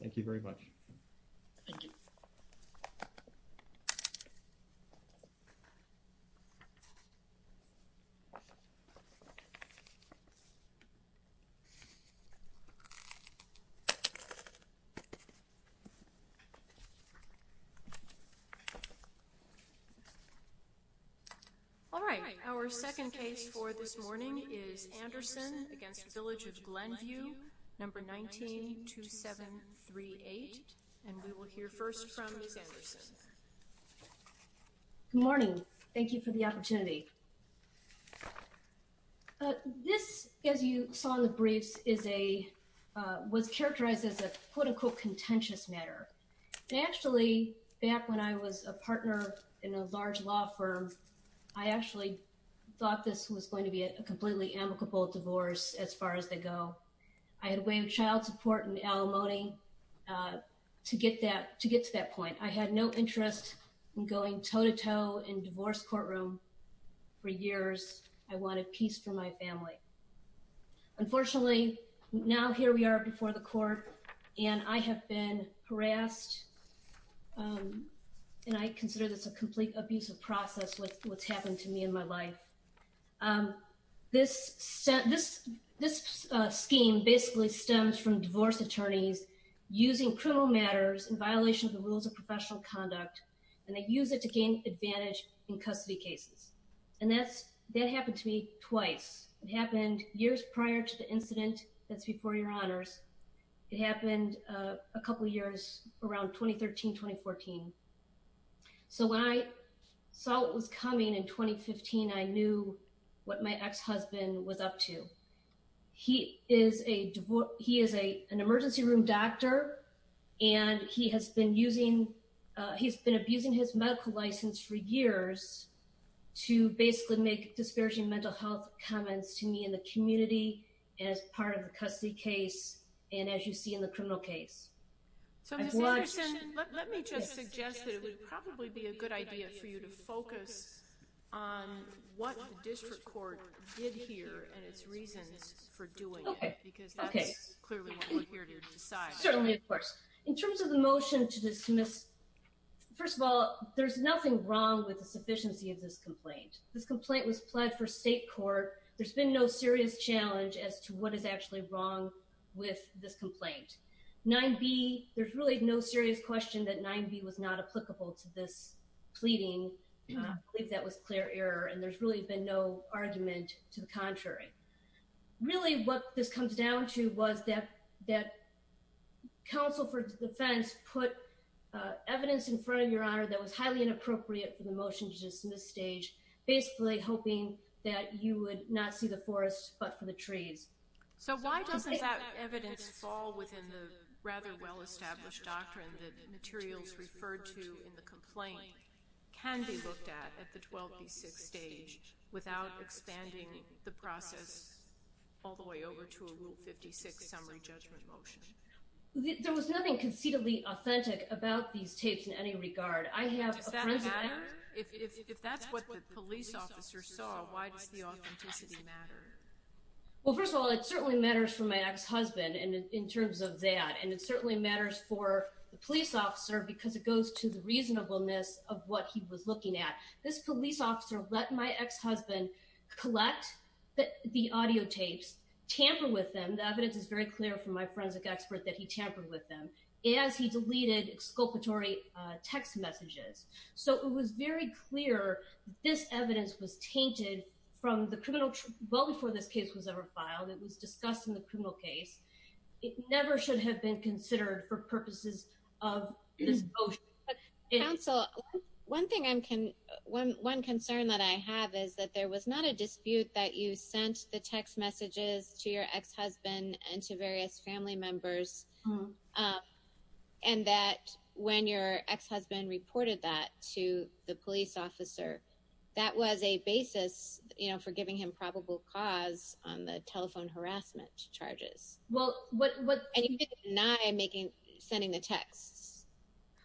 Thank you very much. Thank you. All right, our second case for this morning is Andersen v. Village of Glenview, No. 19-2738. And we will hear first from Ms. Andersen. Good morning. Thank you for the opportunity. This, as you saw in the briefs, was characterized as a quote-unquote contentious matter. And actually, back when I was a partner in a large law firm, I actually thought this was going to be a completely amicable divorce as far as they go. I had a way of child support and alimony to get to that point. I had no interest in going toe-to-toe in divorce courtroom for years. I wanted peace for my family. Unfortunately, now here we are before the court, and I have been harassed, and I consider this a complete abusive process with what's happened to me in my life. This scheme basically stems from divorce attorneys using criminal matters in violation of the rules of professional conduct, and they use it to gain advantage in custody cases. And that happened to me twice. It happened years prior to the incident that's before your honors. It happened a couple years around 2013-2014. So when I saw what was coming in 2015, I knew what my ex-husband was up to. He is an emergency room doctor, and he has been abusing his medical license for years to basically make disparaging mental health comments to me in the community as part of the custody case and, as you see, in the criminal case. So, Ms. Anderson, let me just suggest that it would probably be a good idea for you to focus on what the district court did here and its reasons for doing it because that's clearly what we're here to decide. Certainly, of course. In terms of the motion to dismiss, first of all, there's nothing wrong with the sufficiency of this complaint. This complaint was pled for state court. There's been no serious challenge as to what is actually wrong with this complaint. 9B, there's really no serious question that 9B was not applicable to this pleading. I believe that was clear error, and there's really been no argument to the contrary. Really, what this comes down to was that counsel for defense put evidence in front of your honor that was highly inappropriate for the motion to dismiss stage, basically hoping that you would not see the forest but for the trees. So why doesn't that evidence fall within the rather well-established doctrine that materials referred to in the complaint can be looked at at the 12B6 stage without expanding the process all the way over to a Rule 56 summary judgment motion? There was nothing concededly authentic about these tapes in any regard. Does that matter? If that's what the police officer saw, why does the authenticity matter? Well, first of all, it certainly matters for my ex-husband in terms of that, and it certainly matters for the police officer because it goes to the reasonableness of what he was looking at. This police officer let my ex-husband collect the audio tapes, tamper with them. The evidence is very clear from my forensic expert that he tampered with them as he deleted exculpatory text messages. So it was very clear this evidence was tainted well before this case was ever filed. It was discussed in the criminal case. It never should have been considered for purposes of this motion. Counsel, one concern that I have is that there was not a dispute that you sent the text messages to your ex-husband and to various family members and that when your ex-husband reported that to the police officer, that was a basis for giving him probable cause on the telephone harassment charges. And you didn't deny sending the texts.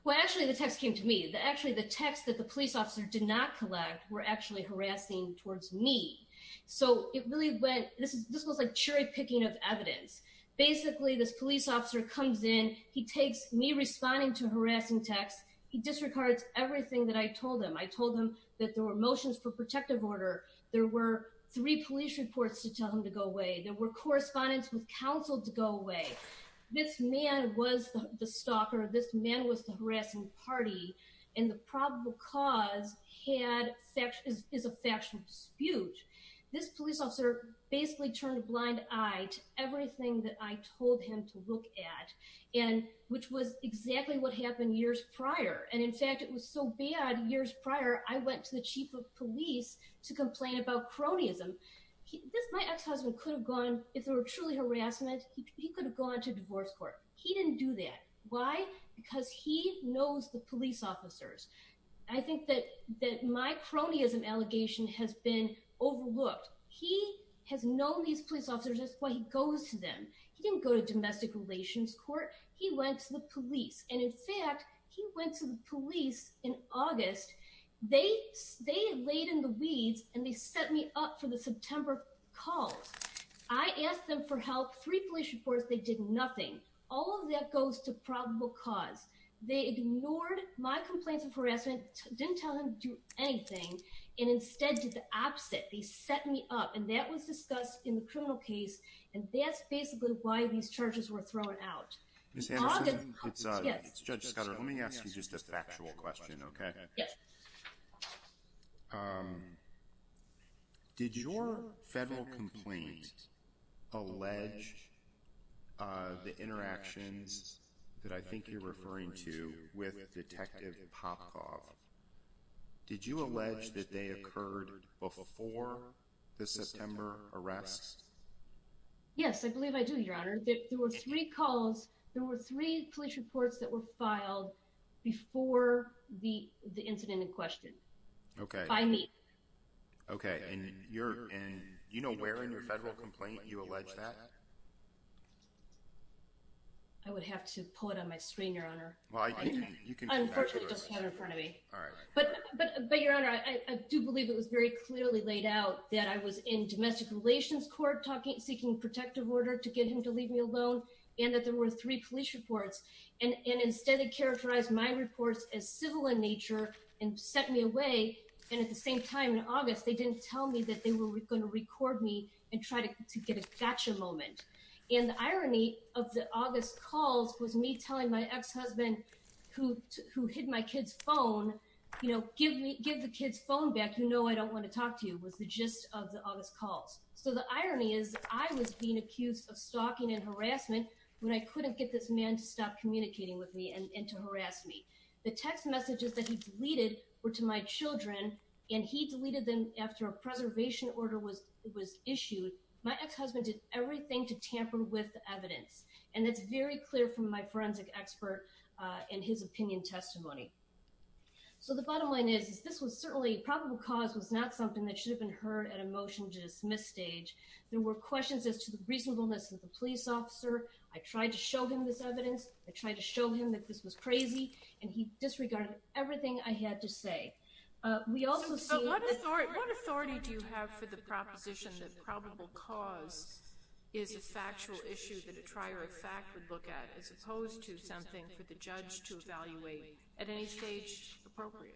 Well, actually, the texts came to me. Actually, the texts that the police officer did not collect were actually harassing towards me. So this was like cherry-picking of evidence. Basically, this police officer comes in. He takes me responding to harassing texts. He disregards everything that I told him. I told him that there were motions for protective order. There were three police reports to tell him to go away. There were correspondence with counsel to go away. This man was the stalker. This man was the harassing party. And the probable cause is a factual dispute. This police officer basically turned a blind eye to everything that I told him to look at, which was exactly what happened years prior. And, in fact, it was so bad years prior, I went to the chief of police to complain about cronyism. My ex-husband could have gone, if there were truly harassment, he could have gone to divorce court. He didn't do that. Why? Because he knows the police officers. I think that my cronyism allegation has been overlooked. He has known these police officers. That's why he goes to them. He didn't go to domestic relations court. He went to the police. And, in fact, he went to the police in August. They laid in the weeds, and they set me up for the September calls. I asked them for help. Three police reports. They did nothing. All of that goes to probable cause. They ignored my complaints of harassment, didn't tell them to do anything, and instead did the opposite. They set me up. And that was discussed in the criminal case, and that's basically why these charges were thrown out. Ms. Anderson, it's Judge Scudero. Let me ask you just a factual question, okay? Yes. Did your federal complaint allege the interactions that I think you're referring to with Detective Popkov? Did you allege that they occurred before the September arrest? Yes, I believe I do, Your Honor. There were three calls. There were three police reports that were filed before the incident in question. Okay. By me. Okay. And you know where in your federal complaint you allege that? I would have to pull it on my screen, Your Honor. Unfortunately, it doesn't have it in front of me. All right. But, Your Honor, I do believe it was very clearly laid out that I was in domestic relations court, seeking protective order to get him to leave me alone, and that there were three police reports. And instead they characterized my reports as civil in nature and sent me away. And at the same time, in August, they didn't tell me that they were going to record me and try to get a gotcha moment. And the irony of the August calls was me telling my ex-husband, who hid my kid's phone, you know, give the kid's phone back, you know I don't want to talk to you, was the gist of the August calls. So the irony is I was being accused of stalking and harassment when I couldn't get this man to stop communicating with me and to harass me. The text messages that he deleted were to my children, and he deleted them after a preservation order was issued. My ex-husband did everything to tamper with the evidence. And it's very clear from my forensic expert in his opinion testimony. So the bottom line is, this was certainly, probable cause was not something that should have been heard at a motion to dismiss stage. There were questions as to the reasonableness of the police officer. I tried to show him this evidence. I tried to show him that this was crazy. And he disregarded everything I had to say. So what authority do you have for the proposition that probable cause is a factual issue that a trier of fact would look at, as opposed to something for the judge to evaluate at any stage appropriate?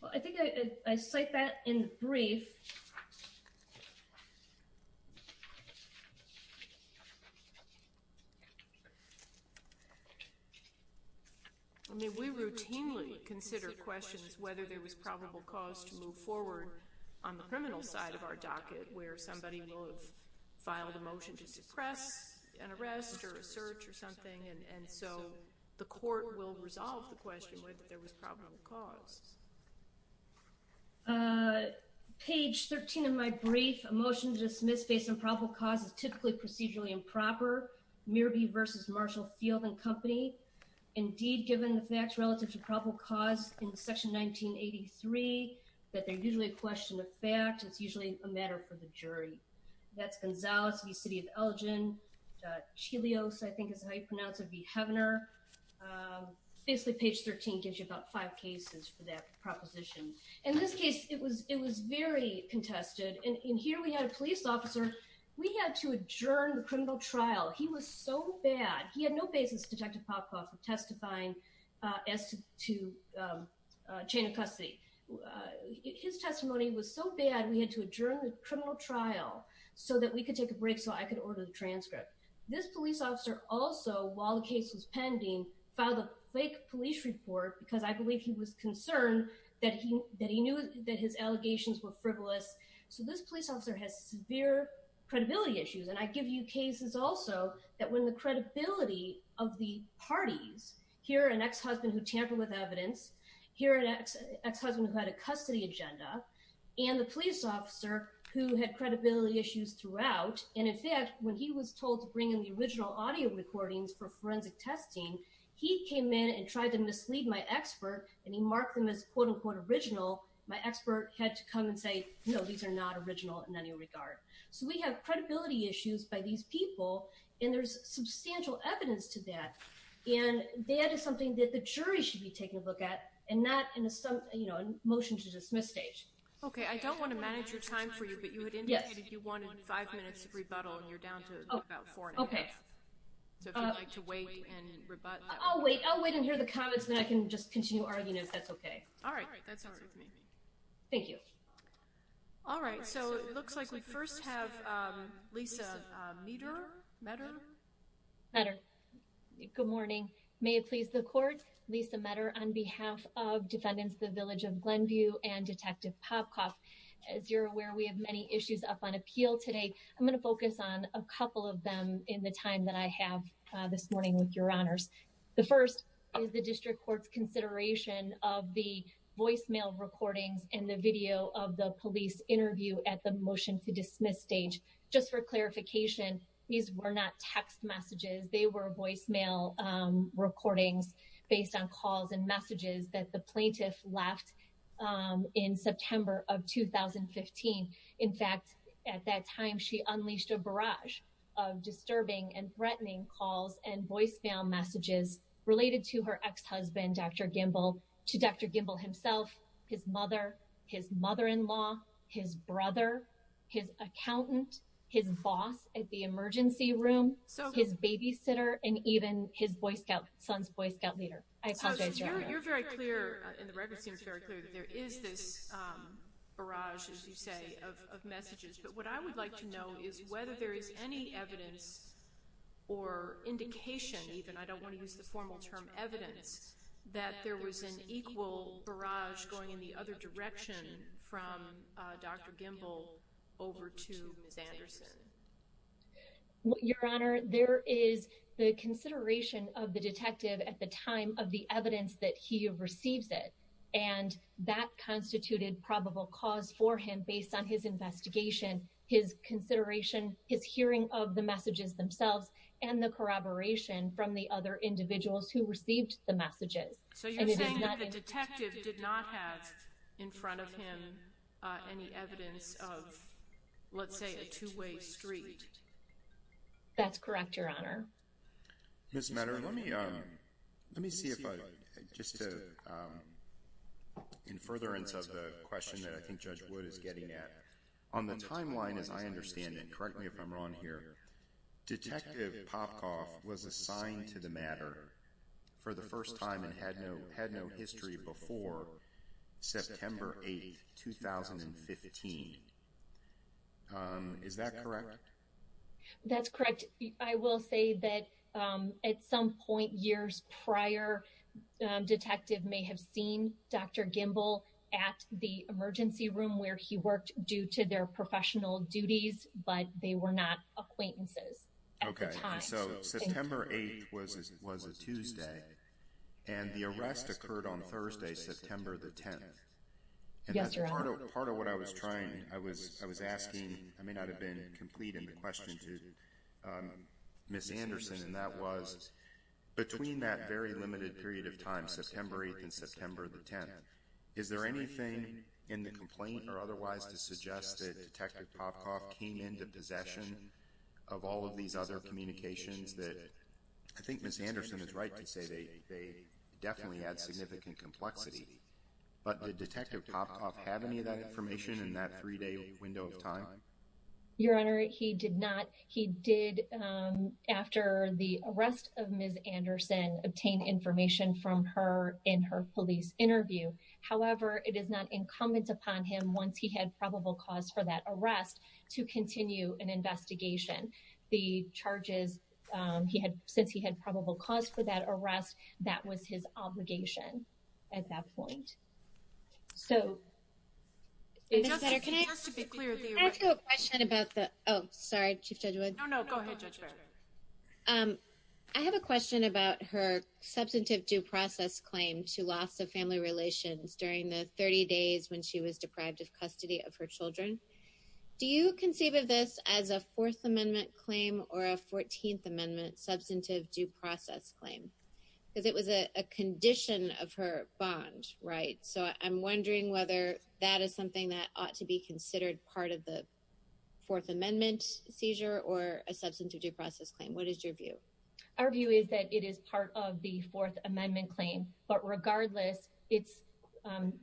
Well, I think I cite that in brief. I mean, we routinely consider questions whether there was probable cause to move forward on the criminal side of our docket, where somebody will have filed a motion to suppress an arrest or a search or something, and so the court will resolve the question whether there was probable cause. Page 13 of my brief, a motion to dismiss based on probable cause is typically procedurally improper. Mearby versus Marshall Field and Company. Indeed, given the facts relative to probable cause in Section 1983, that they're usually a question of fact. It's usually a matter for the jury. That's Gonzales v. City of Elgin. Chilios, I think is how you pronounce it, v. Heavener. Basically, page 13 gives you about five cases for that proposition. In this case, it was very contested, and here we had a police officer. We had to adjourn the criminal trial. He was so bad. He had no basis, Detective Popoff, in testifying as to chain of custody. His testimony was so bad, we had to adjourn the criminal trial so that we could take a break so I could order the transcript. This police officer also, while the case was pending, filed a fake police report because I believe he was concerned that he knew that his allegations were frivolous. So this police officer has severe credibility issues, and I give you cases also that when the credibility of the parties, here an ex-husband who tampered with evidence, here an ex-husband who had a custody agenda, and the police officer who had credibility issues throughout, and in fact, when he was told to bring in the original audio recordings for forensic testing, he came in and tried to mislead my expert, and he marked them as quote-unquote original. My expert had to come and say, no, these are not original in any regard. So we have credibility issues by these people, and there's substantial evidence to that, and that is something that the jury should be taking a look at, and not in a motion to dismiss stage. Okay, I don't want to manage your time for you, but you had indicated you wanted five minutes of rebuttal, and you're down to about four and a half. Okay. So if you'd like to wait and rebut. I'll wait, I'll wait and hear the comments, and then I can just continue arguing if that's okay. All right, that's all right with me. Thank you. All right, so it looks like we first have Lisa Meador, Meador? Good morning. May it please the court. Lisa Meador on behalf of defendants, the village of Glenview and Detective Popcoff. As you're aware, we have many issues up on appeal today. I'm going to focus on a couple of them in the time that I have this morning with your honors. The first is the district court's consideration of the voicemail recordings and the video of the police interview at the motion to dismiss stage. Just for clarification, these were not text messages. They were voicemail recordings based on calls and messages that the plaintiff left in September of 2015. In fact, at that time, she unleashed a barrage of disturbing and threatening calls and voicemail messages related to her ex-husband, Dr. Gimbel, to Dr. Gimbel himself, his mother, his mother-in-law, his brother, his accountant, his boss at the emergency room, his babysitter, and even his Boy Scout, son's Boy Scout leader. You're very clear, and the record seems very clear, that there is this barrage, as you say, of messages. But what I would like to know is whether there is any evidence or indication even, I don't want to use the formal term evidence, that there was an equal barrage going in the other direction from Dr. Gimbel over to Ms. Anderson. Your Honor, there is the consideration of the detective at the time of the evidence that he receives it. And that constituted probable cause for him based on his investigation, his consideration, his hearing of the messages themselves, and the corroboration from the other individuals who received the messages. So you're saying that the detective did not have in front of him any evidence of, let's say, a two-way street? That's correct, Your Honor. Ms. Matter, let me see if I, just to, in furtherance of the question that I think Judge Wood is getting at. On the timeline, as I understand it, correct me if I'm wrong here, Detective Popkov was assigned to the matter for the first time and had no history before September 8, 2015. Is that correct? That's correct. I will say that at some point years prior, Detective may have seen Dr. Gimbel at the emergency room where he worked due to their professional duties, but they were not acquaintances at the time. Okay, so September 8 was a Tuesday, and the arrest occurred on Thursday, September the 10th. Yes, Your Honor. Part of what I was trying, I was asking, I may not have been complete in the question to Ms. Anderson, and that was, between that very limited period of time, September 8 and September the 10th, is there anything in the complaint or otherwise to suggest that Detective Popkov came into possession of all of these other communications that, I think Ms. Anderson is right to say they definitely had significant complexity, but did Detective Popkov have any of that information in that three day window of time? Your Honor, he did not. He did, after the arrest of Ms. Anderson, obtain information from her in her police interview. However, it is not incumbent upon him, once he had probable cause for that arrest, to continue an investigation. The charges, he had, since he had probable cause for that arrest, that was his obligation at that point. So, Ms. Petter, can I ask you a question about the, oh, sorry, Chief Judge Wood. No, no, go ahead, Judge Barrett. I have a question about her substantive due process claim to loss of family relations during the 30 days when she was deprived of custody of her children. Do you conceive of this as a Fourth Amendment claim or a 14th Amendment substantive due process claim? Because it was a condition of her bond, right? So, I'm wondering whether that is something that ought to be considered part of the Fourth Amendment seizure or a substantive due process claim. What is your view? Our view is that it is part of the Fourth Amendment claim. But regardless, it's,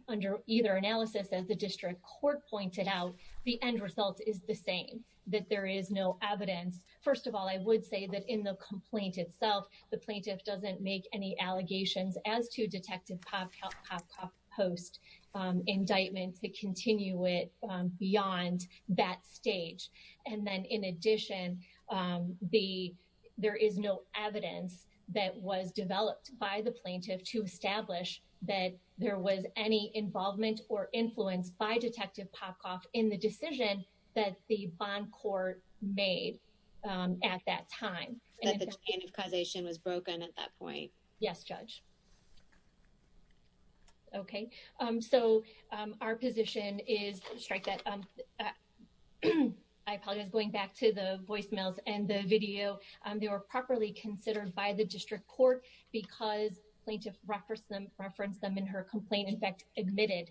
under either analysis, as the district court pointed out, the end result is the same, that there is no evidence. First of all, I would say that in the complaint itself, the plaintiff doesn't make any allegations as to Detective Popkopf Post's indictment to continue it beyond that stage. And then, in addition, there is no evidence that was developed by the plaintiff to establish that there was any involvement or influence by Detective Popkopf in the decision that the bond court made at that time. That the identification was broken at that point. Yes, Judge. Okay. So, our position is, I apologize, going back to the voicemails and the video. They were properly considered by the district court because plaintiff referenced them in her complaint, in fact, admitted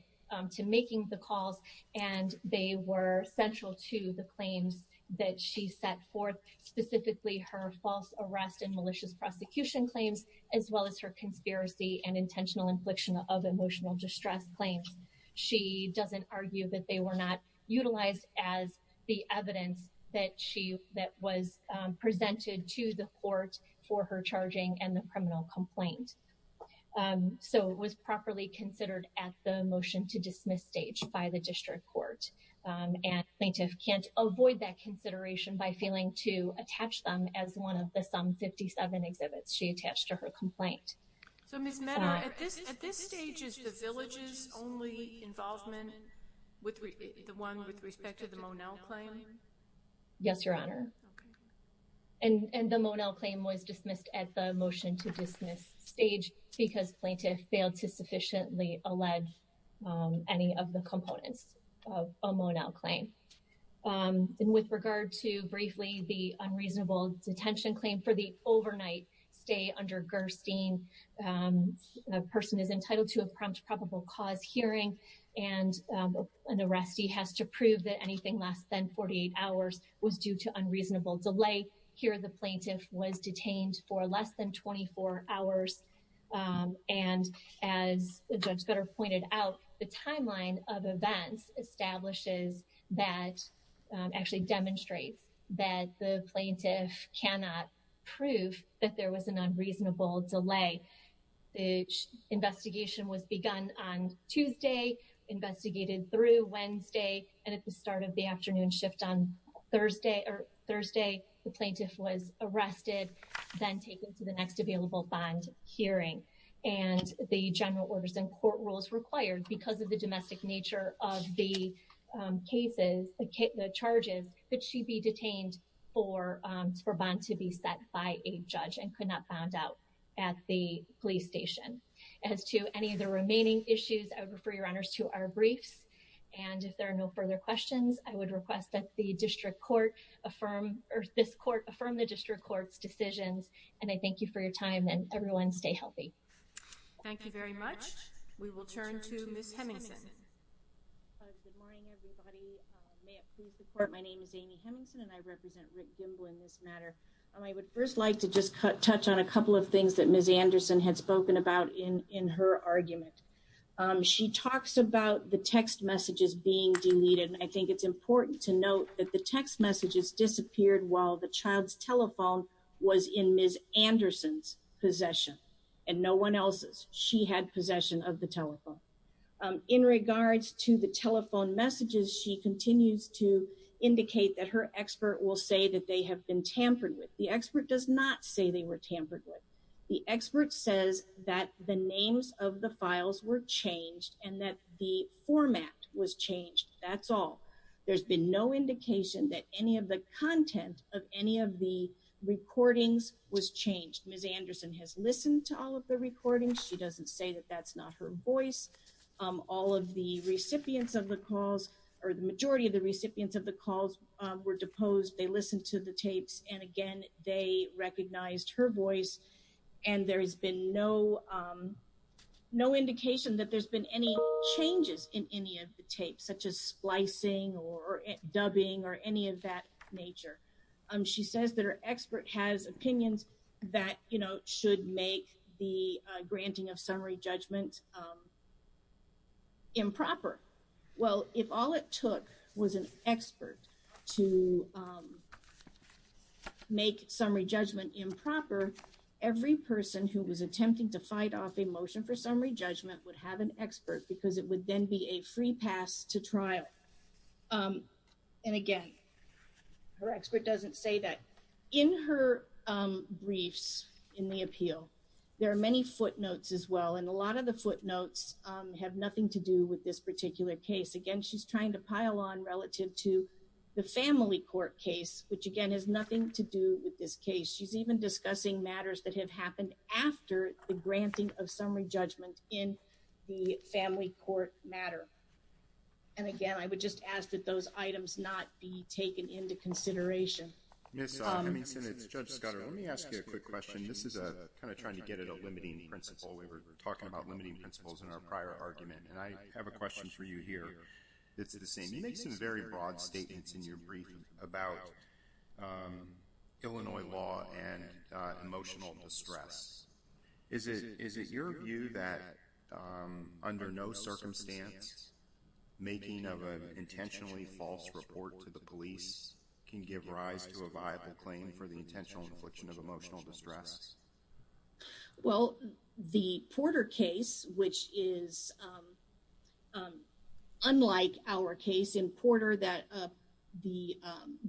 to making the calls. And they were central to the claims that she set forth, specifically her false arrest and malicious prosecution claims, as well as her conspiracy and intentional infliction of emotional distress claims. She doesn't argue that they were not utilized as the evidence that was presented to the court for her charging and the criminal complaint. So, it was properly considered at the motion to dismiss stage by the district court. And plaintiff can't avoid that consideration by failing to attach them as one of the some 57 exhibits she attached to her complaint. So, Ms. Menner, at this stage, is the Villages only involvement, the one with respect to the Monell claim? Yes, Your Honor. Okay. And the Monell claim was dismissed at the motion to dismiss stage because plaintiff failed to sufficiently allege any of the components of a Monell claim. And with regard to, briefly, the unreasonable detention claim for the overnight stay under Gerstein, a person is entitled to a prompt probable cause hearing. And an arrestee has to prove that anything less than 48 hours was due to unreasonable delay. Here, the plaintiff was detained for less than 24 hours. And as Judge Gutter pointed out, the timeline of events establishes that, actually demonstrates, that the plaintiff cannot prove that there was an unreasonable delay. The investigation was begun on Tuesday, investigated through Wednesday, and at the start of the afternoon shift on Thursday, the plaintiff was arrested, then taken to the next available bond hearing. And the general orders and court rules required, because of the domestic nature of the cases, the charges, that she be detained for bond to be set by a judge and could not bond out at the police station. As to any of the remaining issues, I would refer Your Honors to our briefs. And if there are no further questions, I would request that the district court affirm, or this court affirm the district court's decisions. And I thank you for your time, and everyone stay healthy. Thank you very much. We will turn to Ms. Hemingson. Good morning, everybody. May it please the court, my name is Amy Hemingson, and I represent Rick Gimble in this matter. I would first like to just touch on a couple of things that Ms. Anderson had spoken about in her argument. She talks about the text messages being deleted, and I think it's important to note that the text messages disappeared while the child's telephone was in Ms. Anderson's possession, and no one else's. She had possession of the telephone. In regards to the telephone messages, she continues to indicate that her expert will say that they have been tampered with. The expert does not say they were tampered with. The expert says that the names of the files were changed, and that the format was changed. That's all. There's been no indication that any of the content of any of the recordings was changed. Ms. Anderson has listened to all of the recordings. She doesn't say that that's not her voice. All of the recipients of the calls, or the majority of the recipients of the calls were deposed. They listened to the tapes, and again, they recognized her voice, and there has been no indication that there's been any changes in any of the tapes, such as splicing or dubbing or any of that nature. She says that her expert has opinions that should make the granting of summary judgment improper. Well, if all it took was an expert to make summary judgment improper, every person who was attempting to fight off a motion for summary judgment would have an expert, because it would then be a free pass to trial. And again, her expert doesn't say that. In her briefs in the appeal, there are many footnotes as well, and a lot of the footnotes have nothing to do with this particular case. Again, she's trying to pile on relative to the family court case, which again has nothing to do with this case. She's even discussing matters that have happened after the granting of summary judgment in the family court matter. And again, I would just ask that those items not be taken into consideration. Ms. Hemmingsen, it's Judge Scudder. Let me ask you a quick question. This is kind of trying to get at a limiting principle. We were talking about limiting principles in our prior argument, and I have a question for you here that's the same. You make some very broad statements in your brief about Illinois law and emotional distress. Is it your view that under no circumstance, making of an intentionally false report to the police can give rise to a viable claim for the intentional infliction of emotional distress? Well, the Porter case, which is unlike our case in Porter, the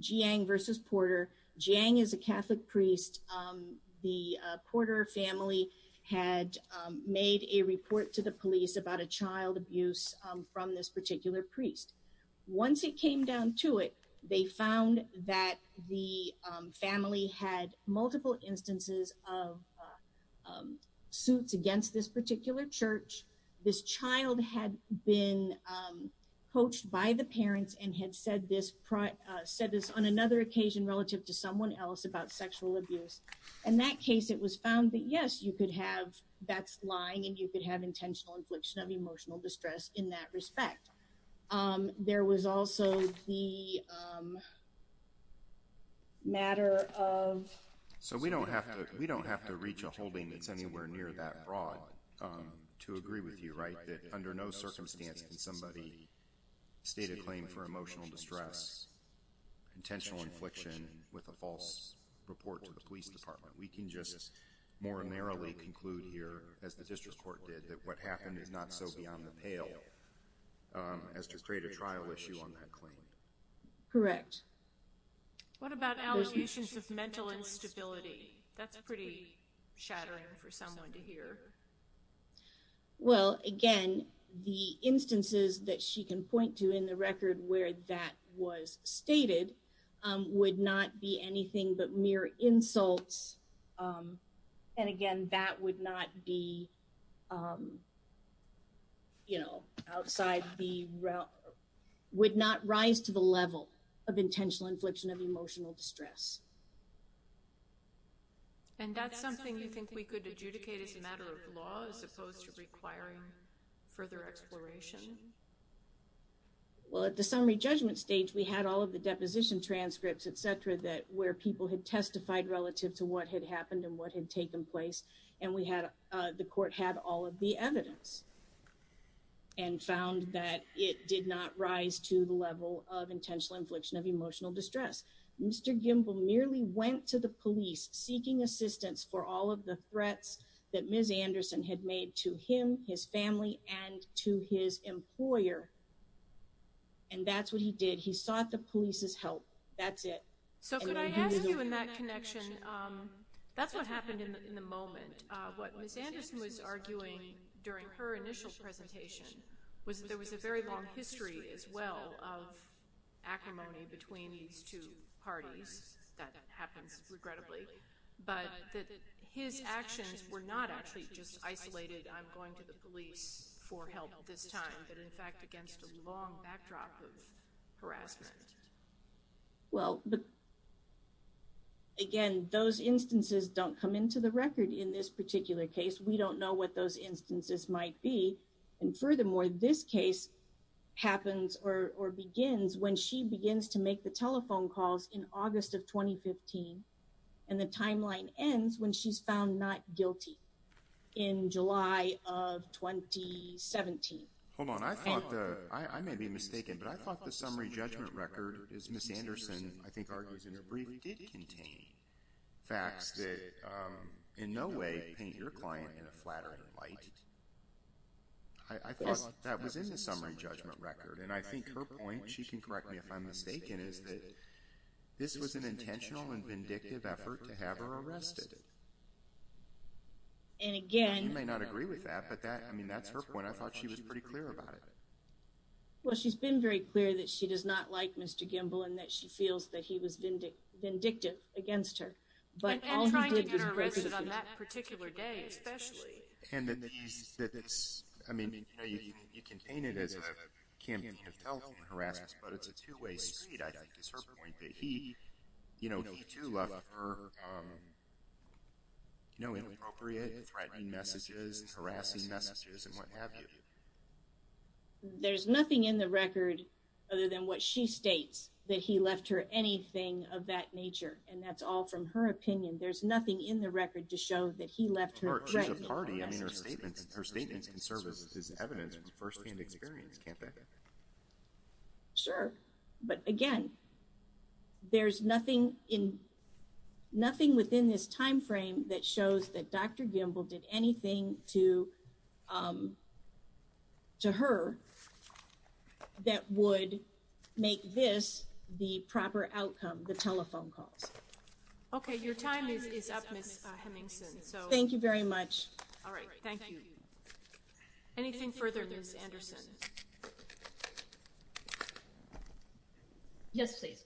Jiang versus Porter. Jiang is a Catholic priest. The Porter family had made a report to the police about a child abuse from this particular priest. Once it came down to it, they found that the family had multiple instances of suits against this particular church. This child had been coached by the parents and had said this on another occasion relative to someone else about sexual abuse. In that case, it was found that, yes, you could have that's lying and you could have intentional infliction of emotional distress in that respect. There was also the matter of... So we don't have to reach a holding that's anywhere near that broad to agree with you, right? That under no circumstance can somebody state a claim for emotional distress, intentional infliction with a false report to the police department. We can just more narrowly conclude here, as the district court did, that what happened is not so beyond the pale as to create a trial issue on that claim. Correct. What about allegations of mental instability? That's pretty shattering for someone to hear. Well, again, the instances that she can point to in the record where that was stated would not be anything but mere insults. And again, that would not be, you know, outside the... Would not rise to the level of intentional infliction of emotional distress. And that's something you think we could adjudicate as a matter of law as opposed to requiring further exploration? Well, at the summary judgment stage, we had all of the deposition transcripts, et cetera, that where people had testified relative to what had happened and what had taken place. And we had, the court had all of the evidence and found that it did not rise to the level of intentional infliction of emotional distress. Mr. Gimbel merely went to the police seeking assistance for all of the threats that Ms. Anderson had made to him, his family, and to his employer. And that's what he did. He sought the police's help. That's it. So could I ask you in that connection, that's what happened in the moment. What Ms. Anderson was arguing during her initial presentation was that there was a very long history as well of acrimony between these two parties. That happens, regrettably. But that his actions were not actually just isolated, I'm going to the police for help this time, but in fact against a long backdrop of harassment. Well, again, those instances don't come into the record in this particular case. We don't know what those instances might be. And furthermore, this case happens or begins when she begins to make the telephone calls in August of 2015. And the timeline ends when she's found not guilty in July of 2017. Hold on. I may be mistaken, but I thought the summary judgment record, as Ms. Anderson I think argues in her brief, did contain facts that in no way paint your client in a flattering light. I thought that was in the summary judgment record. And I think her point, she can correct me if I'm mistaken, is that this was an intentional and vindictive effort to have her arrested. You may not agree with that, but that's her point. I thought she was pretty clear about it. Well, she's been very clear that she does not like Mr. Gimbel and that she feels that he was vindictive against her. And trying to get her arrested on that particular day, especially. And that it's, I mean, you can paint it as a campaign of telephone harassment, but it's a two-way street, I think, is her point. That he, you know, he too left her, you know, inappropriate, threatening messages, harassing messages, and what have you. There's nothing in the record other than what she states, that he left her anything of that nature. And that's all from her opinion. There's nothing in the record to show that he left her threatening. Or she's a party. I mean, her statements can serve as evidence, first-hand experience, can't they? Sure. But again, there's nothing in, nothing within this time frame that shows that Dr. Gimbel did anything to her that would make this the proper outcome, the telephone calls. Okay, your time is up, Ms. Hemingson. Thank you very much. All right, thank you. Anything further, Ms. Anderson? Yes, please.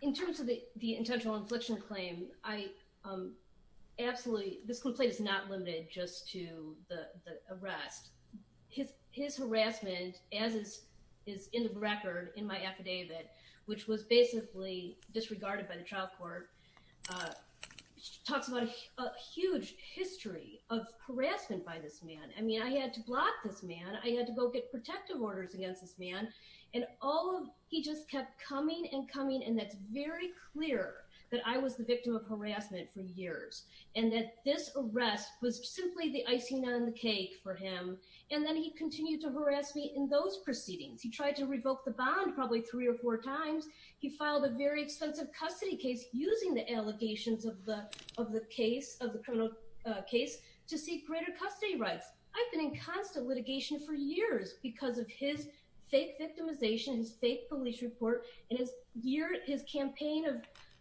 In terms of the intentional infliction claim, I absolutely, this complaint is not limited just to the arrest. His harassment, as is in the record in my affidavit, which was basically disregarded by the trial court, talks about a huge history of harassment by this man. I mean, I had to block this man. I had to go get protective orders against this man. And all of, he just kept coming and coming, and that's very clear that I was the victim of harassment for years. And that this arrest was simply the icing on the cake for him. And then he continued to harass me in those proceedings. He tried to revoke the bond probably three or four times. He filed a very expensive custody case using the allegations of the case, of the criminal case, to seek greater custody rights. I've been in constant litigation for years because of his fake victimization, his fake police report, and his campaign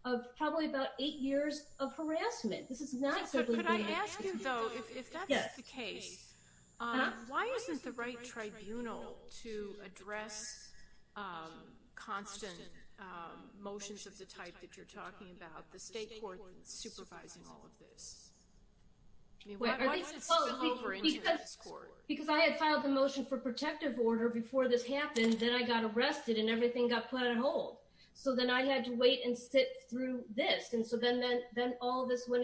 of probably about eight years of harassment. This is not simply the case. Could I ask you, though, if that's the case, why isn't the right tribunal to address constant motions of the type that you're talking about, the state court supervising all of this? I mean, why would it spill over into this court? Because I had filed the motion for protective order before this happened. Then I got arrested, and everything got put on hold. So then I had to wait and sit through this. And so then all this went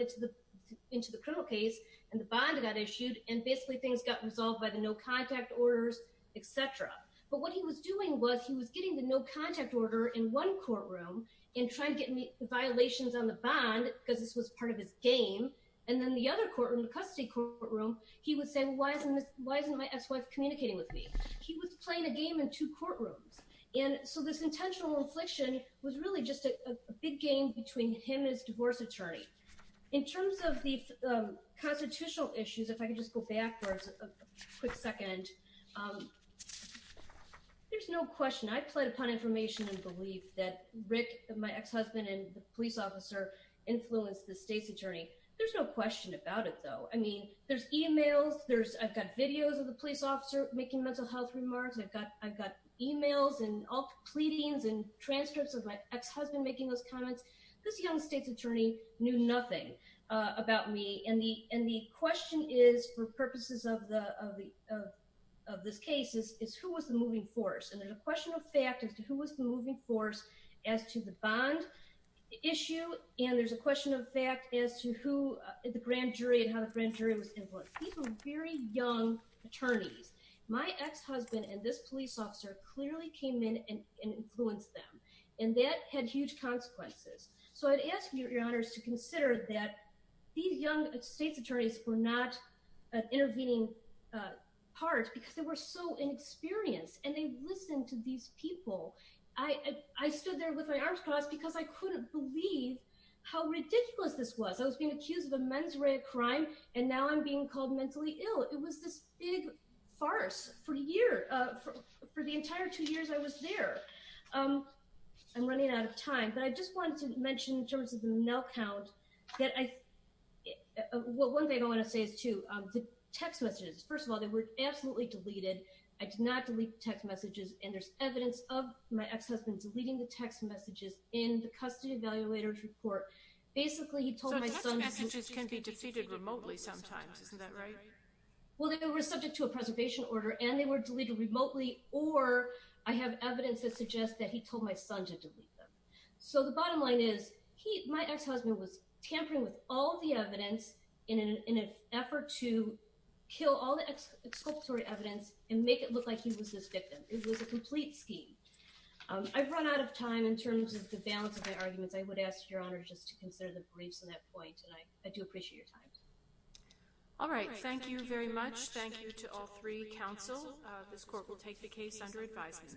into the criminal case, and the bond got issued, and basically things got resolved by the no-contact orders, et cetera. But what he was doing was he was getting the no-contact order in one courtroom and trying to get me violations on the bond because this was part of his game. And then the other courtroom, the custody courtroom, he would say, well, why isn't my ex-wife communicating with me? He was playing a game in two courtrooms. And so this intentional infliction was really just a big game between him and his divorce attorney. In terms of the constitutional issues, if I could just go backwards a quick second, there's no question. I pled upon information and belief that Rick, my ex-husband, and the police officer influenced the state's attorney. There's no question about it, though. I mean, there's e-mails. I've got videos of the police officer making mental health remarks. I've got e-mails and all the pleadings and transcripts of my ex-husband making those comments. This young state's attorney knew nothing about me. And the question is, for purposes of this case, is who was the moving force? And there's a question of fact as to who was the moving force as to the bond issue. And there's a question of fact as to who the grand jury and how the grand jury was influenced. These were very young attorneys. My ex-husband and this police officer clearly came in and influenced them. And that had huge consequences. So I'd ask you, Your Honors, to consider that these young state's attorneys were not an intervening part because they were so inexperienced. And they listened to these people. I stood there with my arms crossed because I couldn't believe how ridiculous this was. I was being accused of a mens rea crime, and now I'm being called mentally ill. It was this big farce for a year. For the entire two years I was there. I'm running out of time. But I just wanted to mention in terms of the mail count that I one thing I want to say is, too, the text messages. First of all, they were absolutely deleted. I did not delete the text messages. And there's evidence of my ex-husband deleting the text messages in the custody evaluator's report. Basically, he told my son. So text messages can be deleted remotely sometimes. Isn't that right? Well, they were subject to a preservation order, and they were deleted remotely. Or I have evidence that suggests that he told my son to delete them. So the bottom line is my ex-husband was tampering with all the evidence in an effort to kill all the exculpatory evidence and make it look like he was this victim. It was a complete scheme. I've run out of time in terms of the balance of my arguments. I would ask Your Honor just to consider the briefs on that point, and I do appreciate your time. All right. Thank you very much. Thank you to all three counsel. This court will take the case under advisement.